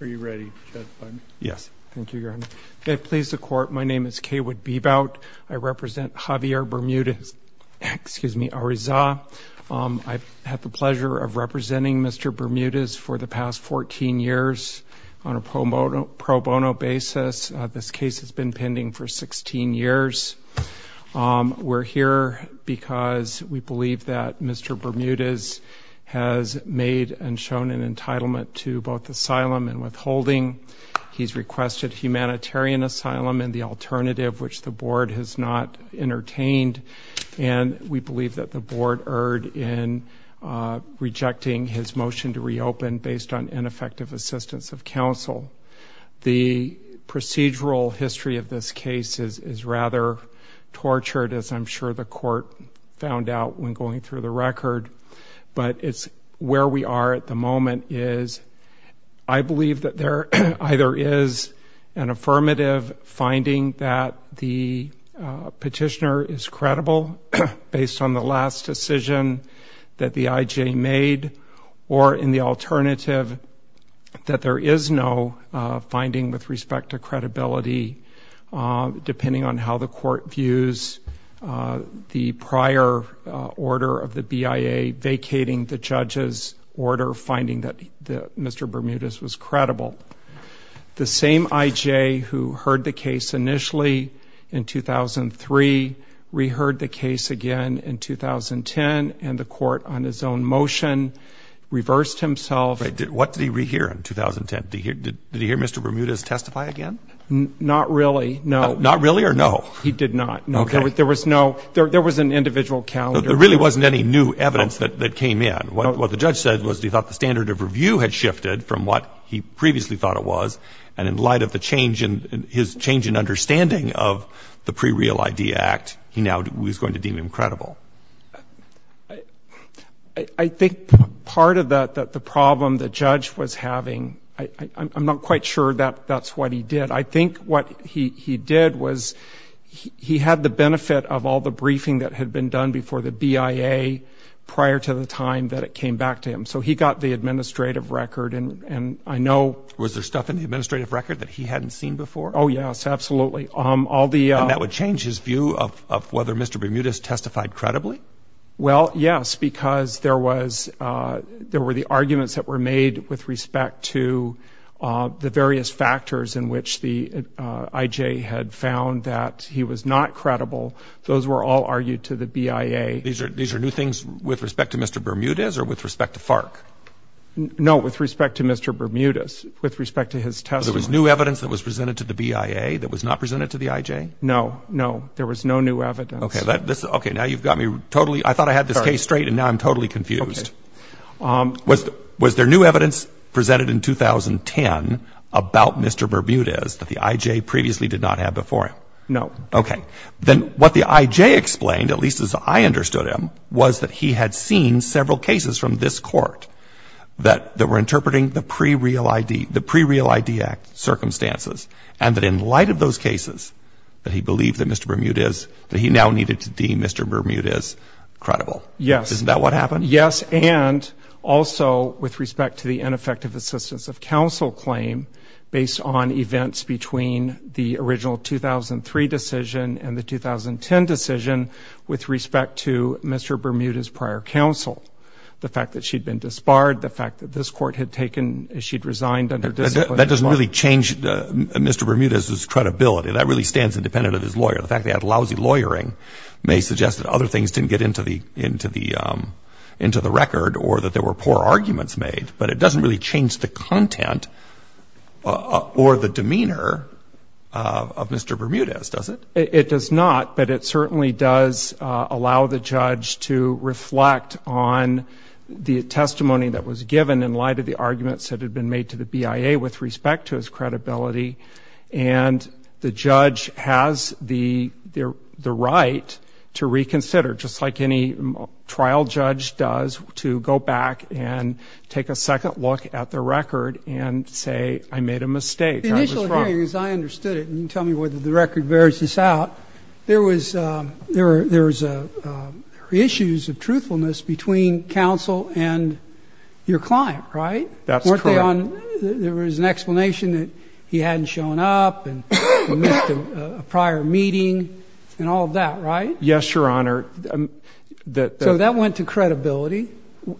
Are you ready? Yes. Thank you, Your Honor. May it please the Court, my name is K. Wood Bebout. I represent Javier Bermudez-Arizza. I've had the pleasure of representing Mr. Bermudez for the past 14 years on a pro bono basis. This case has been pending for 16 years. We're here because we believe that Mr. Bermudez-Arizza has an entitlement to both asylum and withholding. He's requested humanitarian asylum and the alternative, which the Board has not entertained, and we believe that the Board erred in rejecting his motion to reopen based on ineffective assistance of counsel. The procedural history of this case is rather tortured, as I'm sure the Court found out when going through the record, but it's where we are at the moment. I believe that there either is an affirmative finding that the petitioner is credible based on the last decision that the IJ made, or in the alternative, that there is no finding with respect to vacating the judge's order, finding that Mr. Bermudez was credible. The same IJ who heard the case initially in 2003, re-heard the case again in 2010, and the Court, on its own motion, reversed himself. What did he re-hear in 2010? Did he hear Mr. Bermudez testify again? Not really, no. Not really, or no? He did not. There was no, there was an individual calendar. There really wasn't any new evidence that came in. What the judge said was he thought the standard of review had shifted from what he previously thought it was, and in light of the change in, his change in understanding of the Pre-Real Idea Act, he now was going to deem him credible. I think part of that, that the problem the judge was having, I'm not quite sure that that's what he did. I think what he did was he had the benefit of all the briefing that had been done before the BIA, prior to the time that it came back to him. So he got the administrative record, and I know. Was there stuff in the administrative record that he hadn't seen before? Oh yes, absolutely. All the. And that would change his view of whether Mr. Bermudez testified credibly? Well, yes, because there was, there were the arguments that were made with respect to the various factors in which the IJ had found that he was not credible. Those were all argued to the BIA. These are, these are new things with respect to Mr. Bermudez, or with respect to FARC? No, with respect to Mr. Bermudez, with respect to his testimony. There was new evidence that was presented to the BIA that was not presented to the IJ? No, no, there was no new evidence. Okay, that, this, okay, now you've got me totally, I thought I had this case straight, and now I'm totally confused. Was, was there new evidence presented in 2010 about Mr. Bermudez that the IJ previously did not have before him? No. Okay, then what the IJ explained, at least as I understood him, was that he had seen several cases from this court that, that were interpreting the pre-real ID, the pre-real ID act circumstances, and that in light of those cases, that he believed that Mr. Bermudez, that he now needed to deem Mr. Bermudez credible. Yes. Isn't that what happened? Yes, and also with respect to the ineffective assistance of counsel claim, based on events between the original 2003 decision and the 2010 decision, with respect to Mr. Bermudez prior counsel, the fact that she'd been disbarred, the fact that this court had taken, she'd resigned under discipline. That doesn't really change Mr. Bermudez's credibility. That really stands independent of his lawyer. The fact they had lousy lawyering may suggest that other things didn't get into the, into the, into the record, or that there were poor arguments made, but it doesn't really change the content or the demeanor of Mr. Bermudez, does it? It does not, but it certainly does allow the judge to reflect on the testimony that was given in light of the arguments that had been made to the BIA with respect to his credibility. And the judge has the, the right to reconsider, just like any trial judge does, to go back and take a second look at the record and say, I made a mistake, I was wrong. The initial hearing, as I understood it, and you tell me whether the record bears this out, there was, there was issues of truthfulness between counsel and your client, right? That's correct. Weren't they on, there was an explanation that he hadn't shown up and missed a prior meeting and all of that, right? Yes, Your Honor. So that went to credibility?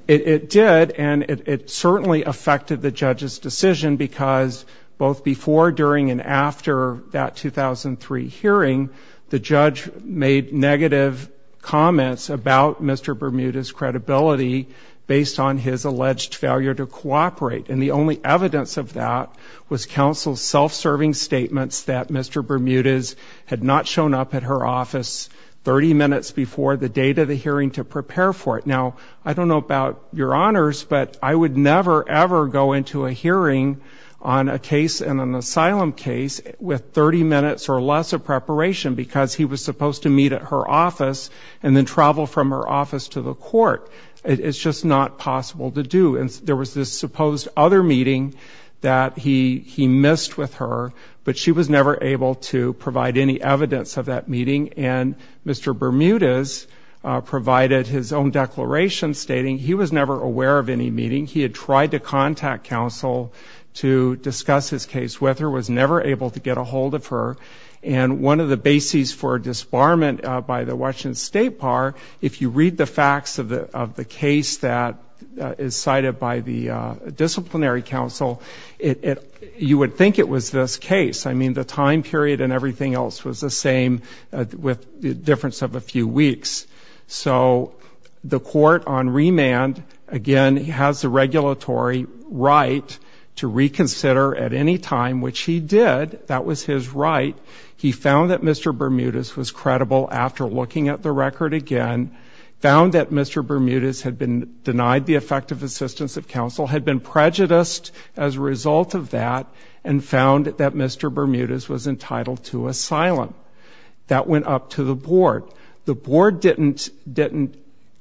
It did, and it certainly affected the judge's decision because both before, during, and after that 2003 hearing, the judge made negative comments about Mr. Bermudez's credibility based on his alleged failure to cooperate, and the only evidence of that was counsel's self-serving statements that Mr. Bermudez had not shown up at her office 30 minutes before the date of the hearing to prepare for it. Now, I don't know about Your Honors, but I would never, ever go into a hearing on a case, on an asylum case, with 30 minutes or less of preparation because he was supposed to meet at her office and then travel from her office to her office, and that was impossible to do, and there was this supposed other meeting that he missed with her, but she was never able to provide any evidence of that meeting, and Mr. Bermudez provided his own declaration stating he was never aware of any meeting. He had tried to contact counsel to discuss his case with her, was never able to get a hold of her, and one of the bases for disbarment by the judge in state par, if you read the facts of the case that is cited by the disciplinary counsel, you would think it was this case. I mean, the time period and everything else was the same with the difference of a few weeks. So the court on remand, again, has the regulatory right to reconsider at any time, which he did. That was his right. He found that Mr. Bermudez was credible after looking at the record again, found that Mr. Bermudez had been denied the effective assistance of counsel, had been prejudiced as a result of that, and found that Mr. Bermudez was entitled to asylum. That went up to the board. The board didn't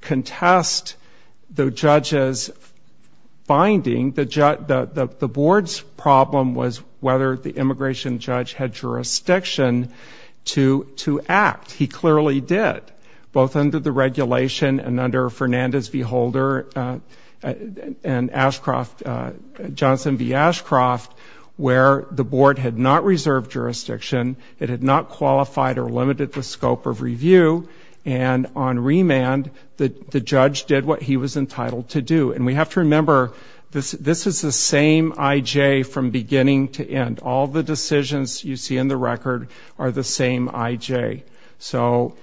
contest the judge's finding. The board's problem was whether the immigration judge had jurisdiction to act. He clearly did, both under the regulation and under Fernandez v. Holder and Johnson v. Ashcroft, where the board had not reserved jurisdiction, it had not qualified or limited the scope of review, and on remand, the judge did what he was entitled to do. And we have to remember, this is the same I.J. from beginning to end. All the decisions you see in the record are the same I.J. So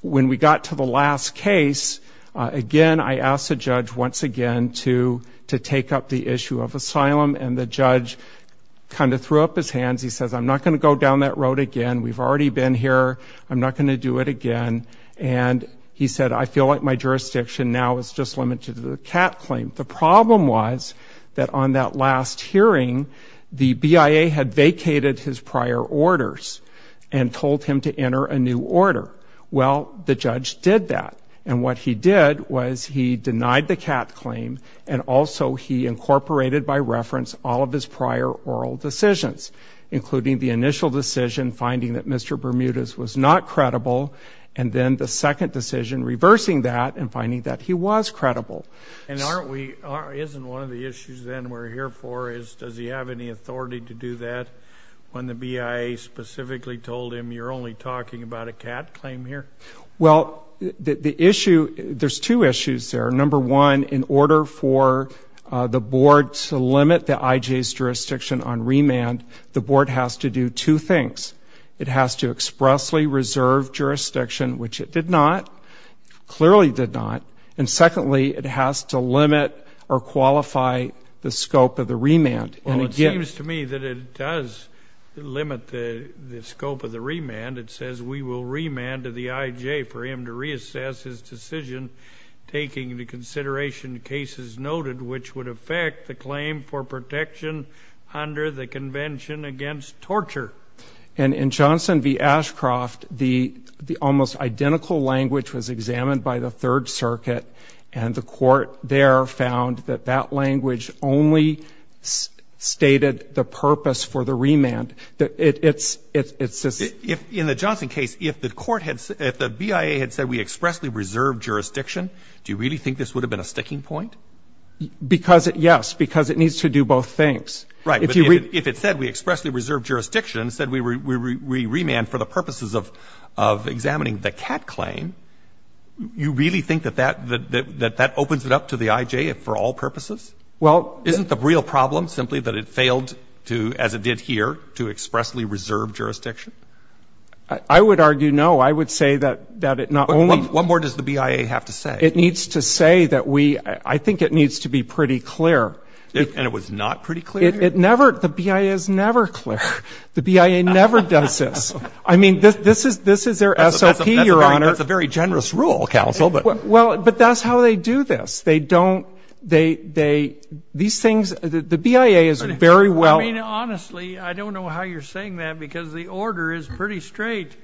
when we got to the last case, again, I asked the judge once again to take up the issue of asylum, and the judge kind of threw up his hands. He says, I'm not going to go down that road again. We've already been here. I'm not going to do it again. And he said, I feel like my jurisdiction now is just limited to the CAT claim. The problem was that on that last hearing, the BIA had vacated his prior orders and told him to enter a new order. Well, the judge did that, and what he did was he denied the CAT claim and also he incorporated by reference all of his prior oral decisions, including the initial decision, finding that Mr. Bermudez was not credible, and then the second decision, reversing that and finding that he was credible. And aren't we, isn't one of the issues then we're here for is, does he have any authority to do that when the BIA specifically told him you're only talking about a CAT claim here? Well, the issue, there's two issues there. Number one, in order for the board to limit the I.J.'s jurisdiction on remand, the board has to do two things. It has to expressly reserve jurisdiction, which it did not, clearly did not. And secondly, it has to limit or qualify the scope of the remand. And again... Well, it seems to me that it does limit the scope of the remand. It says we will remand to the I.J. for him to reassess his decision, taking into consideration cases noted which would affect the claim for protection under the Convention Against Torture. And in Johnson v. Ashcroft, the almost identical language was examined by the Third Circuit, and the court there found that that language only stated the purpose for the remand. It's just... In the Johnson case, if the BIA had said we expressly reserve jurisdiction, do you really think this would have been a sticking point? Yes, because it needs to do both things. Right. But if it said we expressly reserve jurisdiction and said we remand for the purposes of examining the Catt claim, you really think that that opens it up to the I.J. for all purposes? Well... Isn't the real problem simply that it failed to, as it did here, to expressly reserve jurisdiction? I would argue no. I would say that it not only... What more does the BIA have to say? It needs to say that we — I think it needs to be pretty clear... And it was not pretty clear? It never — the BIA is never clear. The BIA never does this. I mean, this is their SOP, Your Honor. That's a very generous rule, counsel, but... Well, but that's how they do this. They don't — they — these things — the BIA is very well... I mean, honestly, I don't know how you're saying that, because the order is pretty straight.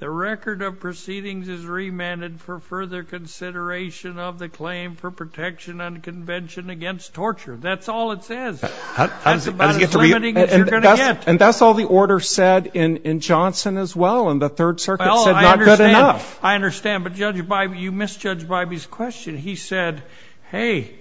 The record of proceedings is remanded for further consideration of the claim for protection and convention against torture. That's all it says. That's about as limiting as you're going to get. And that's all the order said in Johnson as well, and the Third Circuit said, not good enough. Well, I understand. I understand. But Judge Bybee — you misjudged Bybee's question. He said, hey,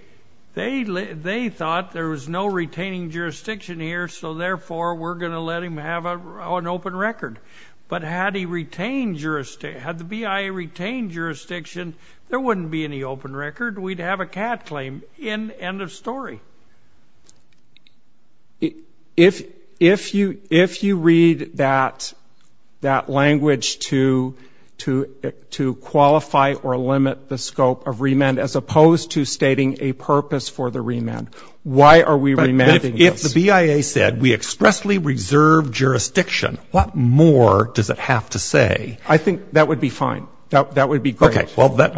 they thought there was no retaining jurisdiction here, so therefore we're going to let him have an open record. But had he retained jurisdiction — had he retained jurisdiction, we'd have a CAD claim. End of story. If you — if you read that language to qualify or limit the scope of remand, as opposed to stating a purpose for the remand, why are we remanding this? But if the BIA said, we expressly reserve jurisdiction, what more does it have to say? I think that would be fine. That would be great. Okay. Well, that...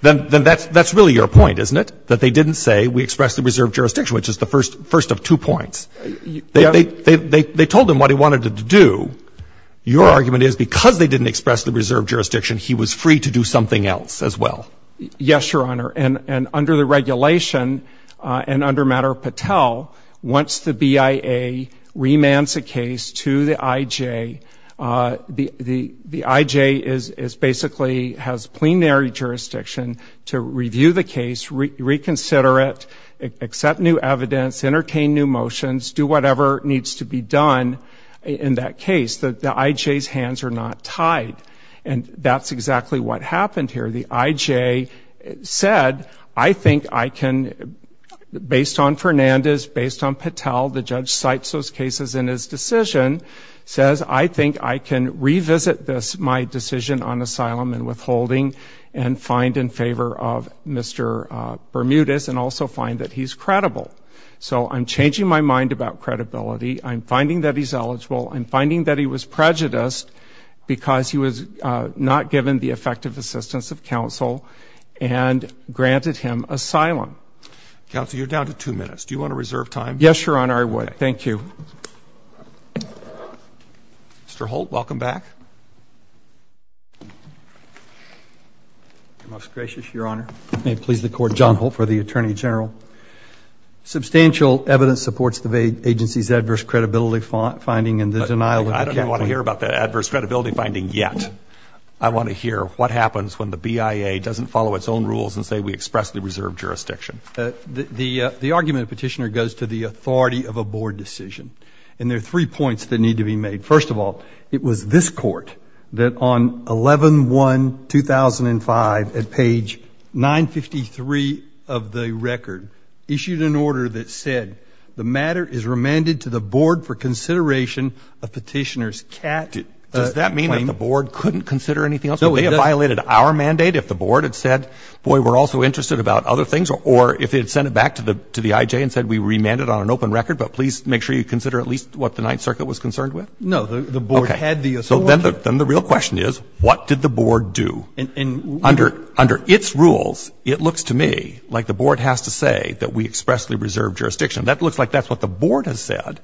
Then that's really your point, isn't it, that they didn't say, we expressly reserve jurisdiction, which is the first of two points. They told him what he wanted to do. Your argument is, because they didn't expressly reserve jurisdiction, he was free to do something else as well. Yes, Your Honor. And under the regulation, and under Matter of Patel, once the BIA remands a case to the IJ, the IJ is — basically has plenary jurisdiction to review the case, reconsider it, accept new evidence, entertain new motions, do whatever needs to be done in that case. The IJ's hands are not tied. And that's exactly what happened here. The IJ said, I think I can, based on Fernandez, based on Patel, the judge cites those cases in his decision, says, I think I can revisit this, my decision on asylum and withholding, and find in favor of Mr. Bermudez and also find that he's credible. So I'm changing my mind about credibility. I'm finding that he's eligible. I'm finding that he was prejudiced because he was not given the effective assistance of counsel and granted him asylum. Counsel, you're down to two minutes. Do you want to reserve time? Yes, Your Honor, I would. Thank you. Mr. Holt, welcome back. Most gracious, Your Honor. May it please the Court, John Holt for the Attorney General. Substantial evidence supports the agency's adverse credibility finding and the denial of the counsel. I don't want to hear about the adverse credibility finding yet. I want to hear what happens when the BIA doesn't follow its own rules and say we expressly reserve jurisdiction. The argument, Petitioner, goes to the authority of a board decision. And there are three points that need to be made. First of all, it was this Court that on 11-1-2005 at page 953 of the record issued an order that said the matter is remanded to the board for consideration of Petitioner's cat claim. Does that mean that the board couldn't consider anything else? No, it doesn't. It violated our mandate if the board had said, boy, we're also interested about other things or if it had sent it back to the IJ and said we remand it on an open record, but please make sure you consider at least what the Ninth Circuit was concerned with? No. The board had the authority. Okay. So then the real question is what did the board do? Under its rules, it looks to me like the board has to say that we expressly reserve jurisdiction. That looks like that's what the board has said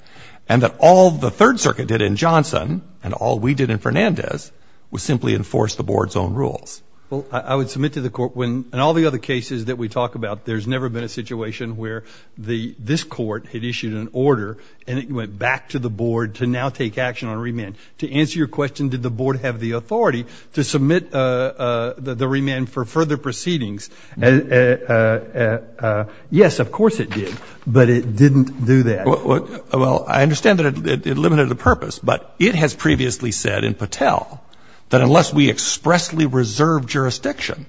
and that all the Third Circuit did in Johnson and all we did in Fernandez was simply enforce the board's own rules. Well, I would submit to the Court when in all the other cases that we talk about, there's never been a situation where this Court had issued an order and it went back to the board to now take action on remand. To answer your question, did the board have the authority to submit the remand for further proceedings? Yes, of course it did, but it didn't do that. Well, I understand that it limited the purpose, but it has previously said in Patel that unless we expressly reserve jurisdiction,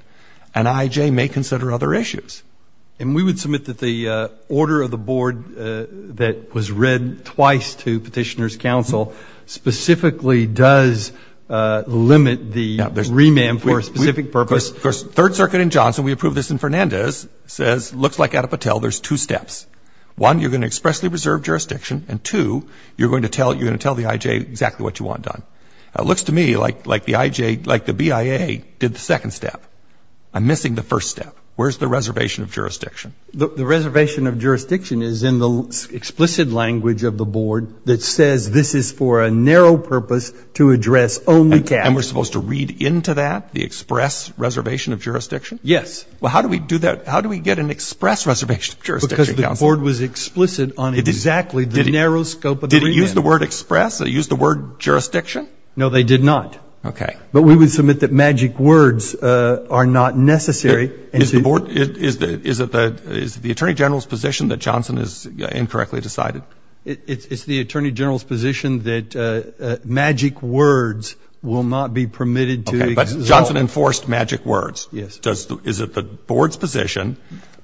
an IJ may consider other issues. And we would submit that the order of the board that was read twice to Petitioner's Counsel specifically does limit the remand for a specific purpose. Of course, Third Circuit in Johnson, we approved this in Fernandez, says it looks like out of Patel there's two steps. One, you're going to expressly reserve jurisdiction, and two, you're going to tell the IJ exactly what you want done. It looks to me like the IJ, like the BIA did the second step. I'm missing the first step. Where's the reservation of jurisdiction? The reservation of jurisdiction is in the explicit language of the board that says this is for a narrow purpose to address only tax. And we're supposed to read into that the express reservation of jurisdiction? Yes. Well, how do we do that? How do we get an express reservation of jurisdiction? Because the board was explicit on exactly the narrow scope of the remand. Did it use the word express? Did it use the word jurisdiction? No, they did not. Okay. But we would submit that magic words are not necessary. Is it the Attorney General's position that Johnson is incorrectly decided? It's the Attorney General's position that magic words will not be permitted to exult. Okay, but Johnson enforced magic words. Yes. Is it the board's position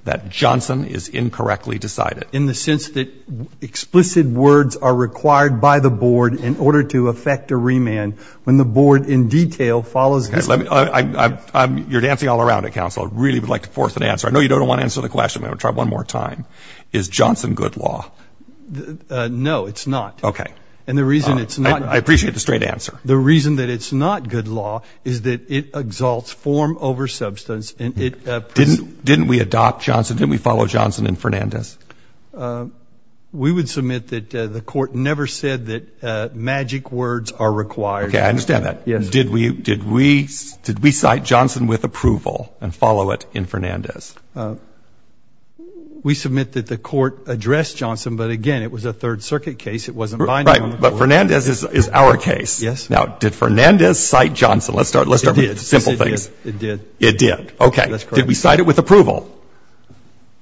that Johnson is incorrectly decided? In the sense that explicit words are required by the board in order to effect a remand. When the board in detail follows it. You're dancing all around it, Counsel. I really would like to force an answer. I know you don't want to answer the question, but I'm going to try one more time. Is Johnson good law? No, it's not. Okay. And the reason it's not. I appreciate the straight answer. The reason that it's not good law is that it exalts form over substance. Didn't we adopt Johnson? Didn't we follow Johnson and Fernandez? We would submit that the court never said that magic words are required. Okay, I understand that. Did we cite Johnson with approval and follow it in Fernandez? We submit that the court addressed Johnson, but, again, it was a Third Circuit case. It wasn't binding on the board. Right. But Fernandez is our case. Yes. Now, did Fernandez cite Johnson? Let's start with simple things. It did. It did. Okay. Did we cite it with approval?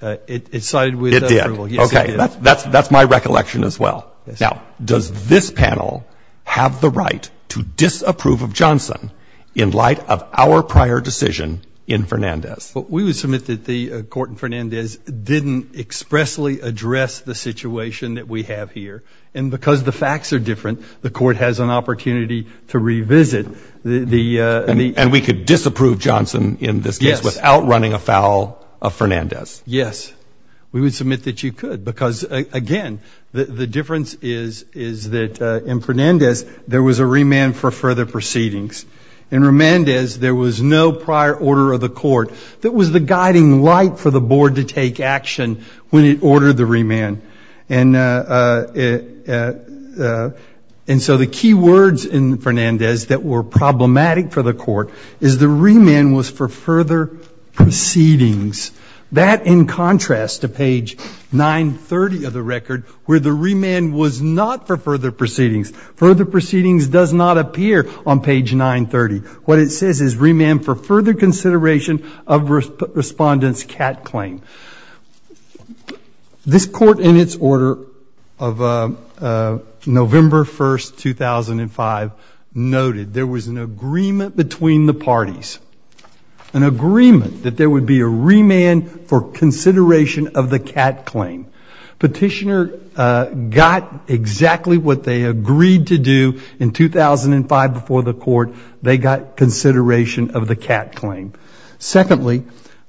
It cited with approval. It did. Yes, it did. Okay. That's my recollection as well. Now, does this panel have the right to disapprove of Johnson in light of our prior decision in Fernandez? We would submit that the court in Fernandez didn't expressly address the situation that we have here. And because the facts are different, the court has an opportunity to revisit the — And we could disapprove Johnson in this case without running afoul of Fernandez. Yes. We would submit that you could because, again, the difference is that in Fernandez, there was a remand for further proceedings. In Fernandez, there was no prior order of the court that was the guiding light for the board to take action when it ordered the remand. And so the key words in Fernandez that were problematic for the court is the remand was for further proceedings. That in contrast to page 930 of the record where the remand was not for further proceedings. Further proceedings does not appear on page 930. What it says is remand for further consideration of respondent's CAT claim. This court in its order of November 1, 2005, noted there was an agreement between the parties, an agreement that there would be a remand for consideration of the CAT claim. Petitioner got exactly what they agreed to do in 2005 before the court. They got consideration of the CAT claim. Secondly,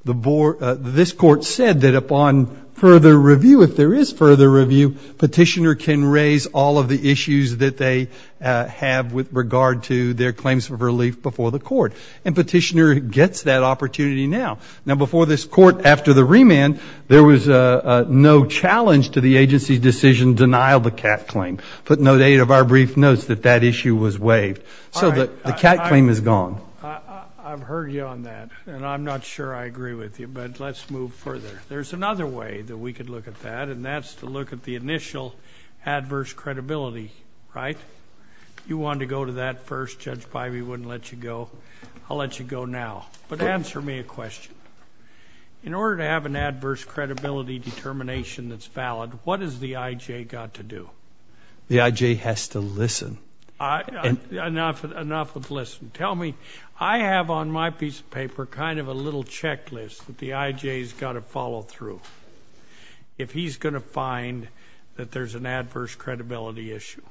this court said that upon further review, if there is further review, petitioner can raise all of the issues that they have with regard to their claims of relief before the court. And petitioner gets that opportunity now. Now, before this court, after the remand, there was no challenge to the agency's decision to denial the CAT claim. But no date of our brief notes that that issue was waived. So the CAT claim is gone. I've heard you on that, and I'm not sure I agree with you, but let's move further. There's another way that we could look at that, and that's to look at the initial adverse credibility, right? You wanted to go to that first. Judge Bivey wouldn't let you go. I'll let you go now. But answer me a question. In order to have an adverse credibility determination that's valid, what has the I.J. got to do? The I.J. has to listen. Enough of listen. Tell me. I have on my piece of paper kind of a little checklist that the I.J. has got to follow through if he's going to find that there's an adverse credibility issue.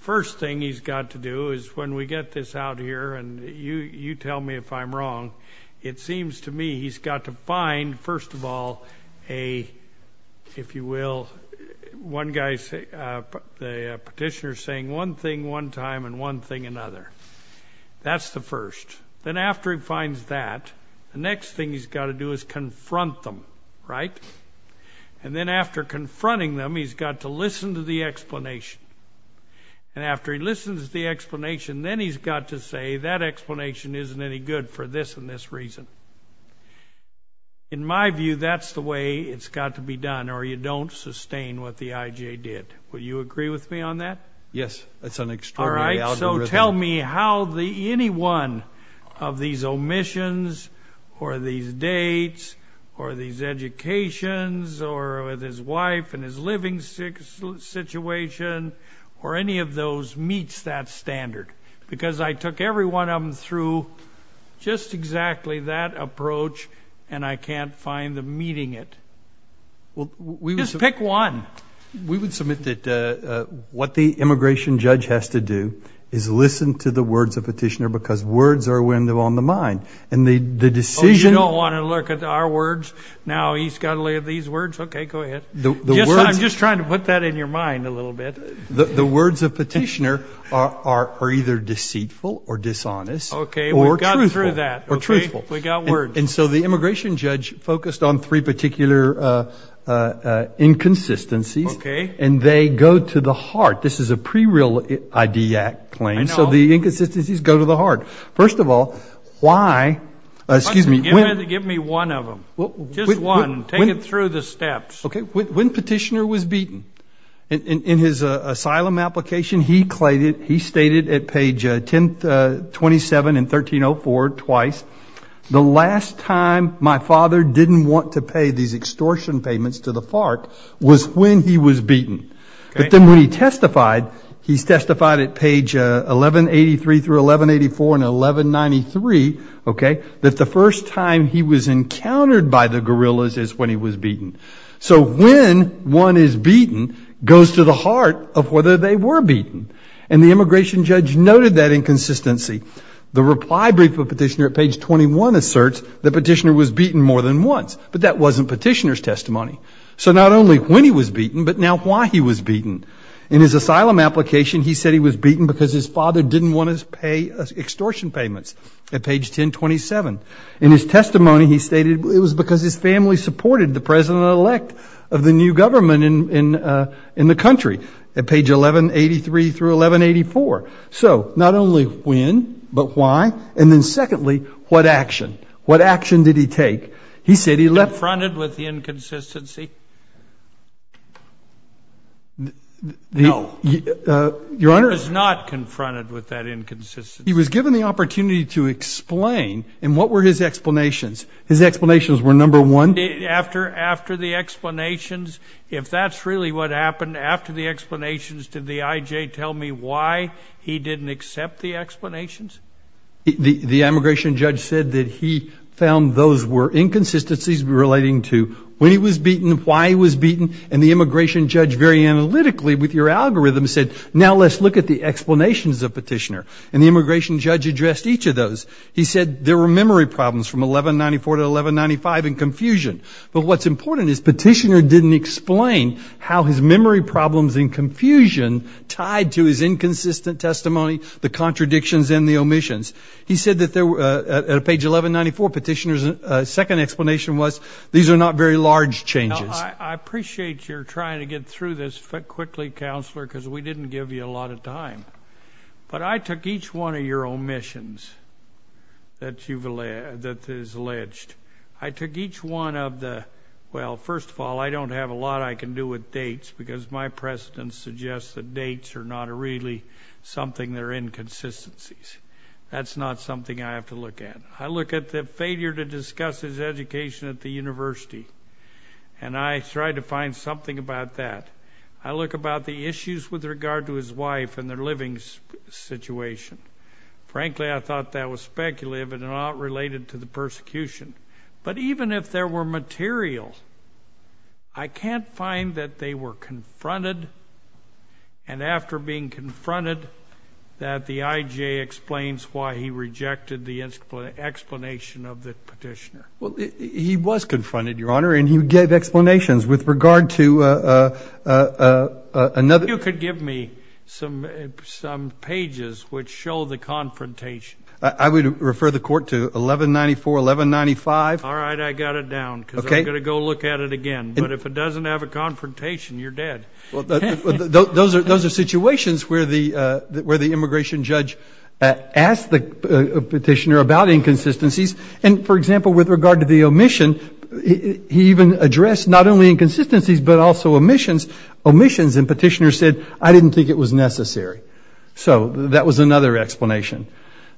First thing he's got to do is when we get this out here, and you tell me if I'm wrong, it seems to me he's got to find, first of all, a, if you will, one guy, the petitioner is saying one thing one time and one thing another. That's the first. Then after he finds that, the next thing he's got to do is confront them, right? And then after confronting them, he's got to listen to the explanation. And after he listens to the explanation, then he's got to say that explanation isn't any good for this and this reason. In my view, that's the way it's got to be done, or you don't sustain what the I.J. did. Would you agree with me on that? Yes. That's an extraordinary algorithm. All right. So tell me how any one of these omissions or these dates or these educations or with his wife and his living situation or any of those meets that standard. Because I took every one of them through just exactly that approach, and I can't find them meeting it. Just pick one. We would submit that what the immigration judge has to do is listen to the words of the petitioner because words are a window on the mind. And the decision- Oh, you don't want to look at our words? Now he's got to look at these words? Okay, go ahead. I'm just trying to put that in your mind a little bit. The words of petitioner are either deceitful or dishonest or truthful. Okay, we got through that. Or truthful. We got words. And so the immigration judge focused on three particular inconsistencies. Okay. And they go to the heart. This is a pre-real ID act claim. I know. So the inconsistencies go to the heart. First of all, why- Give me one of them. Just one. Take it through the steps. Okay, when petitioner was beaten. In his asylum application, he stated at page 1027 and 1304 twice, the last time my father didn't want to pay these extortion payments to the FARC was when he was beaten. But then when he testified, he testified at page 1183 through 1184 and 1193, okay, that the first time he was encountered by the guerrillas is when he was beaten. So when one is beaten goes to the heart of whether they were beaten. And the immigration judge noted that inconsistency. The reply brief of petitioner at page 21 asserts the petitioner was beaten more than once, but that wasn't petitioner's testimony. So not only when he was beaten, but now why he was beaten. In his asylum application, he said he was beaten because his father didn't want to pay extortion payments at page 1027. In his testimony, he stated it was because his family supported the president-elect of the new government in the country, at page 1183 through 1184. So not only when, but why, and then secondly, what action? What action did he take? He said he left- No. He was not confronted with that inconsistency. He was given the opportunity to explain, and what were his explanations? His explanations were, number one- After the explanations, if that's really what happened, after the explanations, did the I.J. tell me why he didn't accept the explanations? The immigration judge said that he found those were inconsistencies relating to when he was beaten, why he was beaten, and the immigration judge very analytically with your algorithm said, now let's look at the explanations of petitioner. And the immigration judge addressed each of those. He said there were memory problems from 1194 to 1195 and confusion. But what's important is petitioner didn't explain how his memory problems and confusion tied to his inconsistent testimony, the contradictions, and the omissions. He said that at page 1194, petitioner's second explanation was, these are not very large changes. I appreciate you're trying to get through this quickly, Counselor, because we didn't give you a lot of time. But I took each one of your omissions that is alleged. I took each one of the, well, first of all, I don't have a lot I can do with dates because my precedents suggest that dates are not really something that are inconsistencies. That's not something I have to look at. I look at the failure to discuss his education at the university, and I try to find something about that. I look about the issues with regard to his wife and their living situation. Frankly, I thought that was speculative and not related to the persecution. But even if there were materials, I can't find that they were confronted, and after being confronted that the IJ explains why he rejected the explanation of the petitioner. Well, he was confronted, Your Honor, and he gave explanations with regard to another. If you could give me some pages which show the confrontation. I would refer the Court to 1194, 1195. All right, I got it down because I'm going to go look at it again. But if it doesn't have a confrontation, you're dead. Those are situations where the immigration judge asked the petitioner about inconsistencies. And, for example, with regard to the omission, he even addressed not only inconsistencies but also omissions. Omissions, and petitioner said, I didn't think it was necessary. So that was another explanation.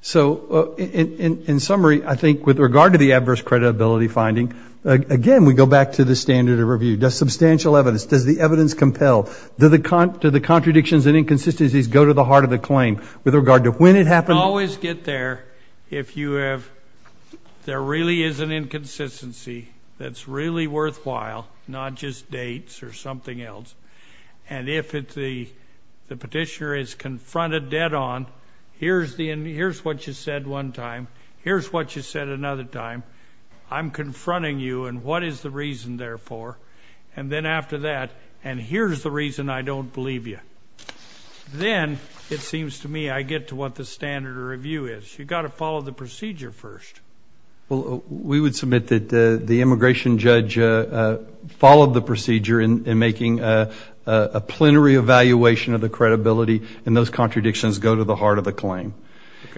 So in summary, I think with regard to the adverse credibility finding, again, we go back to the standard of review. Does substantial evidence, does the evidence compel, do the contradictions and inconsistencies go to the heart of the claim with regard to when it happened? You always get there if you have, there really is an inconsistency that's really worthwhile, not just dates or something else. And if the petitioner is confronted dead on, here's what you said one time. Here's what you said another time. I'm confronting you, and what is the reason therefore? And then after that, and here's the reason I don't believe you. Then it seems to me I get to what the standard of review is. You've got to follow the procedure first. Well, we would submit that the immigration judge followed the procedure in making a plenary evaluation of the credibility, and those contradictions go to the heart of the claim.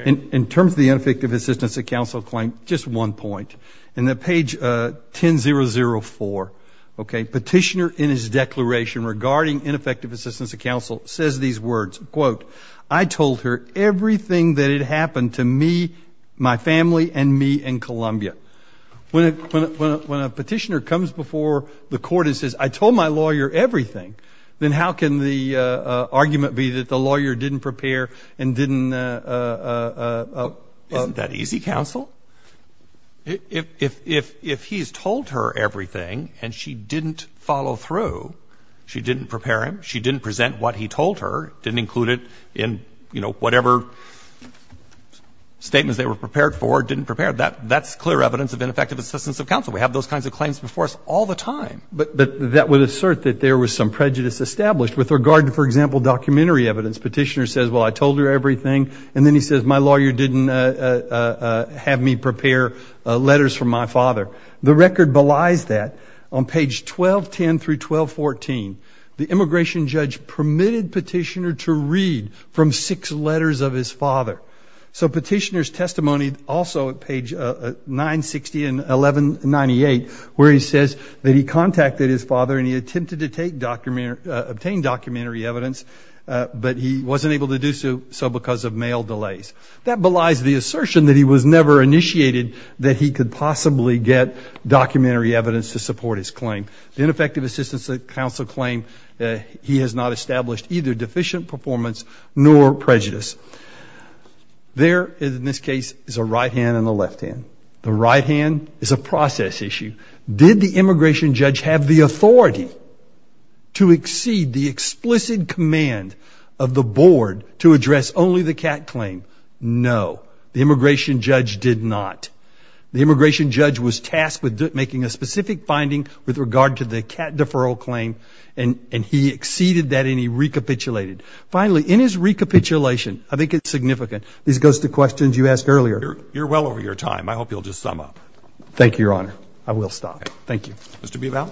In terms of the ineffective assistance of counsel claim, just one point. In the page 1004, okay, petitioner in his declaration regarding ineffective assistance of counsel says these words, quote, I told her everything that had happened to me, my family, and me in Columbia. When a petitioner comes before the court and says, I told my lawyer everything, then how can the argument be that the lawyer didn't prepare and didn't? Isn't that easy, counsel? If he's told her everything and she didn't follow through, she didn't prepare him, she didn't present what he told her, didn't include it in, you know, whatever statements they were prepared for, didn't prepare. That's clear evidence of ineffective assistance of counsel. We have those kinds of claims before us all the time. But that would assert that there was some prejudice established with regard to, for example, documentary evidence. Petitioner says, well, I told her everything, and then he says, my lawyer didn't have me prepare letters from my father. The record belies that. On page 1210 through 1214, the immigration judge permitted petitioner to read from six letters of his father. So petitioner's testimony also at page 960 and 1198, where he says that he contacted his father and he attempted to obtain documentary evidence, but he wasn't able to do so because of mail delays. That belies the assertion that he was never initiated, that he could possibly get documentary evidence to support his claim. The ineffective assistance of counsel claim that he has not established either deficient performance nor prejudice. There, in this case, is a right hand and a left hand. The right hand is a process issue. Did the immigration judge have the authority to exceed the explicit command of the board to address only the cat claim? No. The immigration judge did not. The immigration judge was tasked with making a specific finding with regard to the cat deferral claim, and he exceeded that and he recapitulated. Finally, in his recapitulation, I think it's significant. This goes to questions you asked earlier. You're well over your time. I hope you'll just sum up. Thank you, Your Honor. I will stop. Mr. Bival?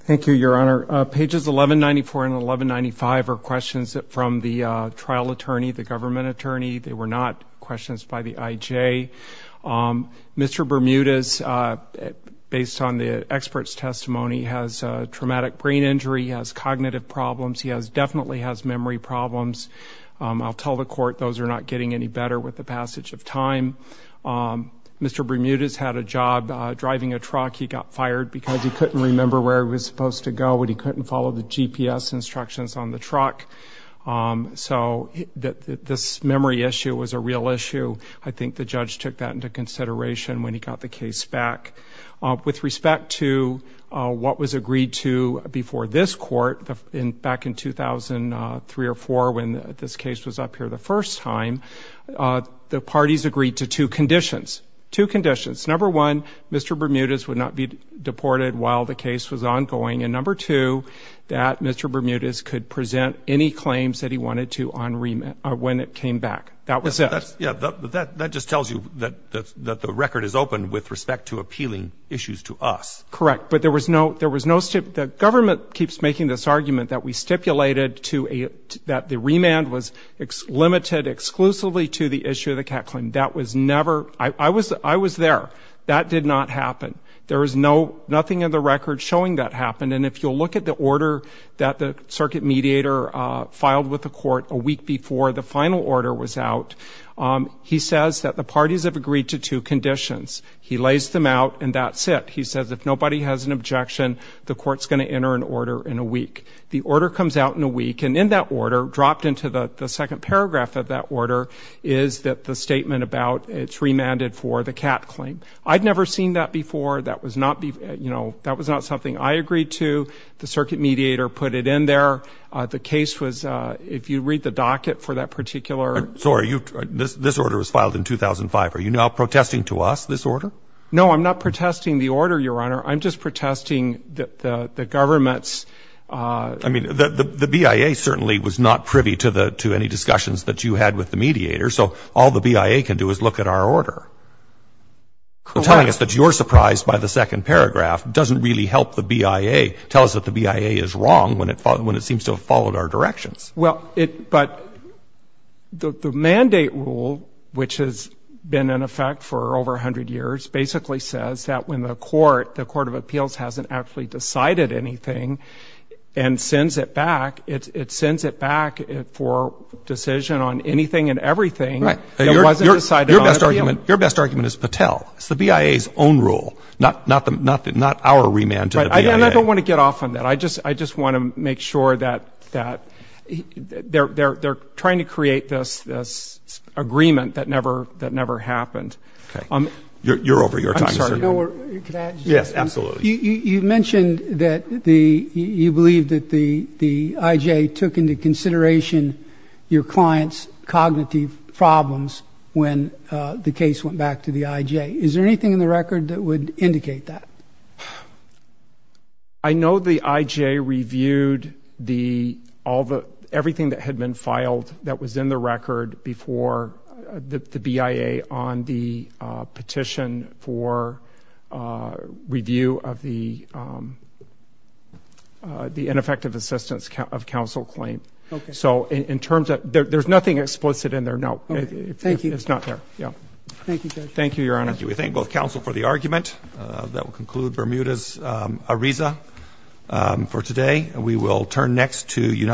Thank you, Your Honor. Pages 1194 and 1195 are questions from the trial attorney, the government attorney. They were not questions by the IJ. Mr. Bermudez, based on the expert's testimony, has traumatic brain injury. He has cognitive problems. He definitely has memory problems. I'll tell the court those are not getting any better with the passage of time. Mr. Bermudez had a job driving a truck. He got fired because he couldn't remember where he was supposed to go and he couldn't follow the GPS instructions on the truck. So this memory issue was a real issue. I think the judge took that into consideration when he got the case back. With respect to what was agreed to before this court back in 2003 or 2004 when this case was up here the first time, the parties agreed to two conditions. Two conditions. Number one, Mr. Bermudez would not be deported while the case was ongoing, and number two, that Mr. Bermudez could present any claims that he wanted to when it came back. That was it. That just tells you that the record is open with respect to appealing issues to us. Correct, but there was no stipulation. The government keeps making this argument that we stipulated that the remand was limited exclusively to the issue of the cat claim. That was never. I was there. That did not happen. There was nothing in the record showing that happened, and if you'll look at the order that the circuit mediator filed with the court a week before the final order was out, he says that the parties have agreed to two conditions. He lays them out, and that's it. He says if nobody has an objection, the court's going to enter an order in a week. The order comes out in a week, and in that order, dropped into the second paragraph of that order, is that the statement about it's remanded for the cat claim. I'd never seen that before. That was not something I agreed to. The circuit mediator put it in there. The case was, if you read the docket for that particular. Sorry, this order was filed in 2005. Are you now protesting to us this order? No, I'm not protesting the order, Your Honor. I'm just protesting the government's. I mean, the BIA certainly was not privy to any discussions that you had with the mediator, so all the BIA can do is look at our order. Correct. Telling us that you're surprised by the second paragraph doesn't really help the BIA. The BIA is wrong when it seems to have followed our directions. Well, but the mandate rule, which has been in effect for over 100 years, basically says that when the court, the court of appeals, hasn't actually decided anything and sends it back, it sends it back for decision on anything and everything that wasn't decided on. Your best argument is Patel. It's the BIA's own rule, not our remand to the BIA. Right. And I don't want to get off on that. I just want to make sure that they're trying to create this agreement that never happened. Okay. You're over your time, sir. I'm sorry. Can I add something? Yes, absolutely. You mentioned that you believe that the IJ took into consideration your client's cognitive problems when the case went back to the IJ. Is there anything in the record that would indicate that? I know the IJ reviewed everything that had been filed that was in the record before the BIA on the petition for review of the ineffective assistance of counsel claim. Okay. So there's nothing explicit in there. No. Thank you. It's not there. Yeah. Thank you, Judge. Thank you, Your Honor. Thank you. We thank both counsel for the argument. That will conclude Bermuda's Ariza for today. We will turn next to United States Attorney General,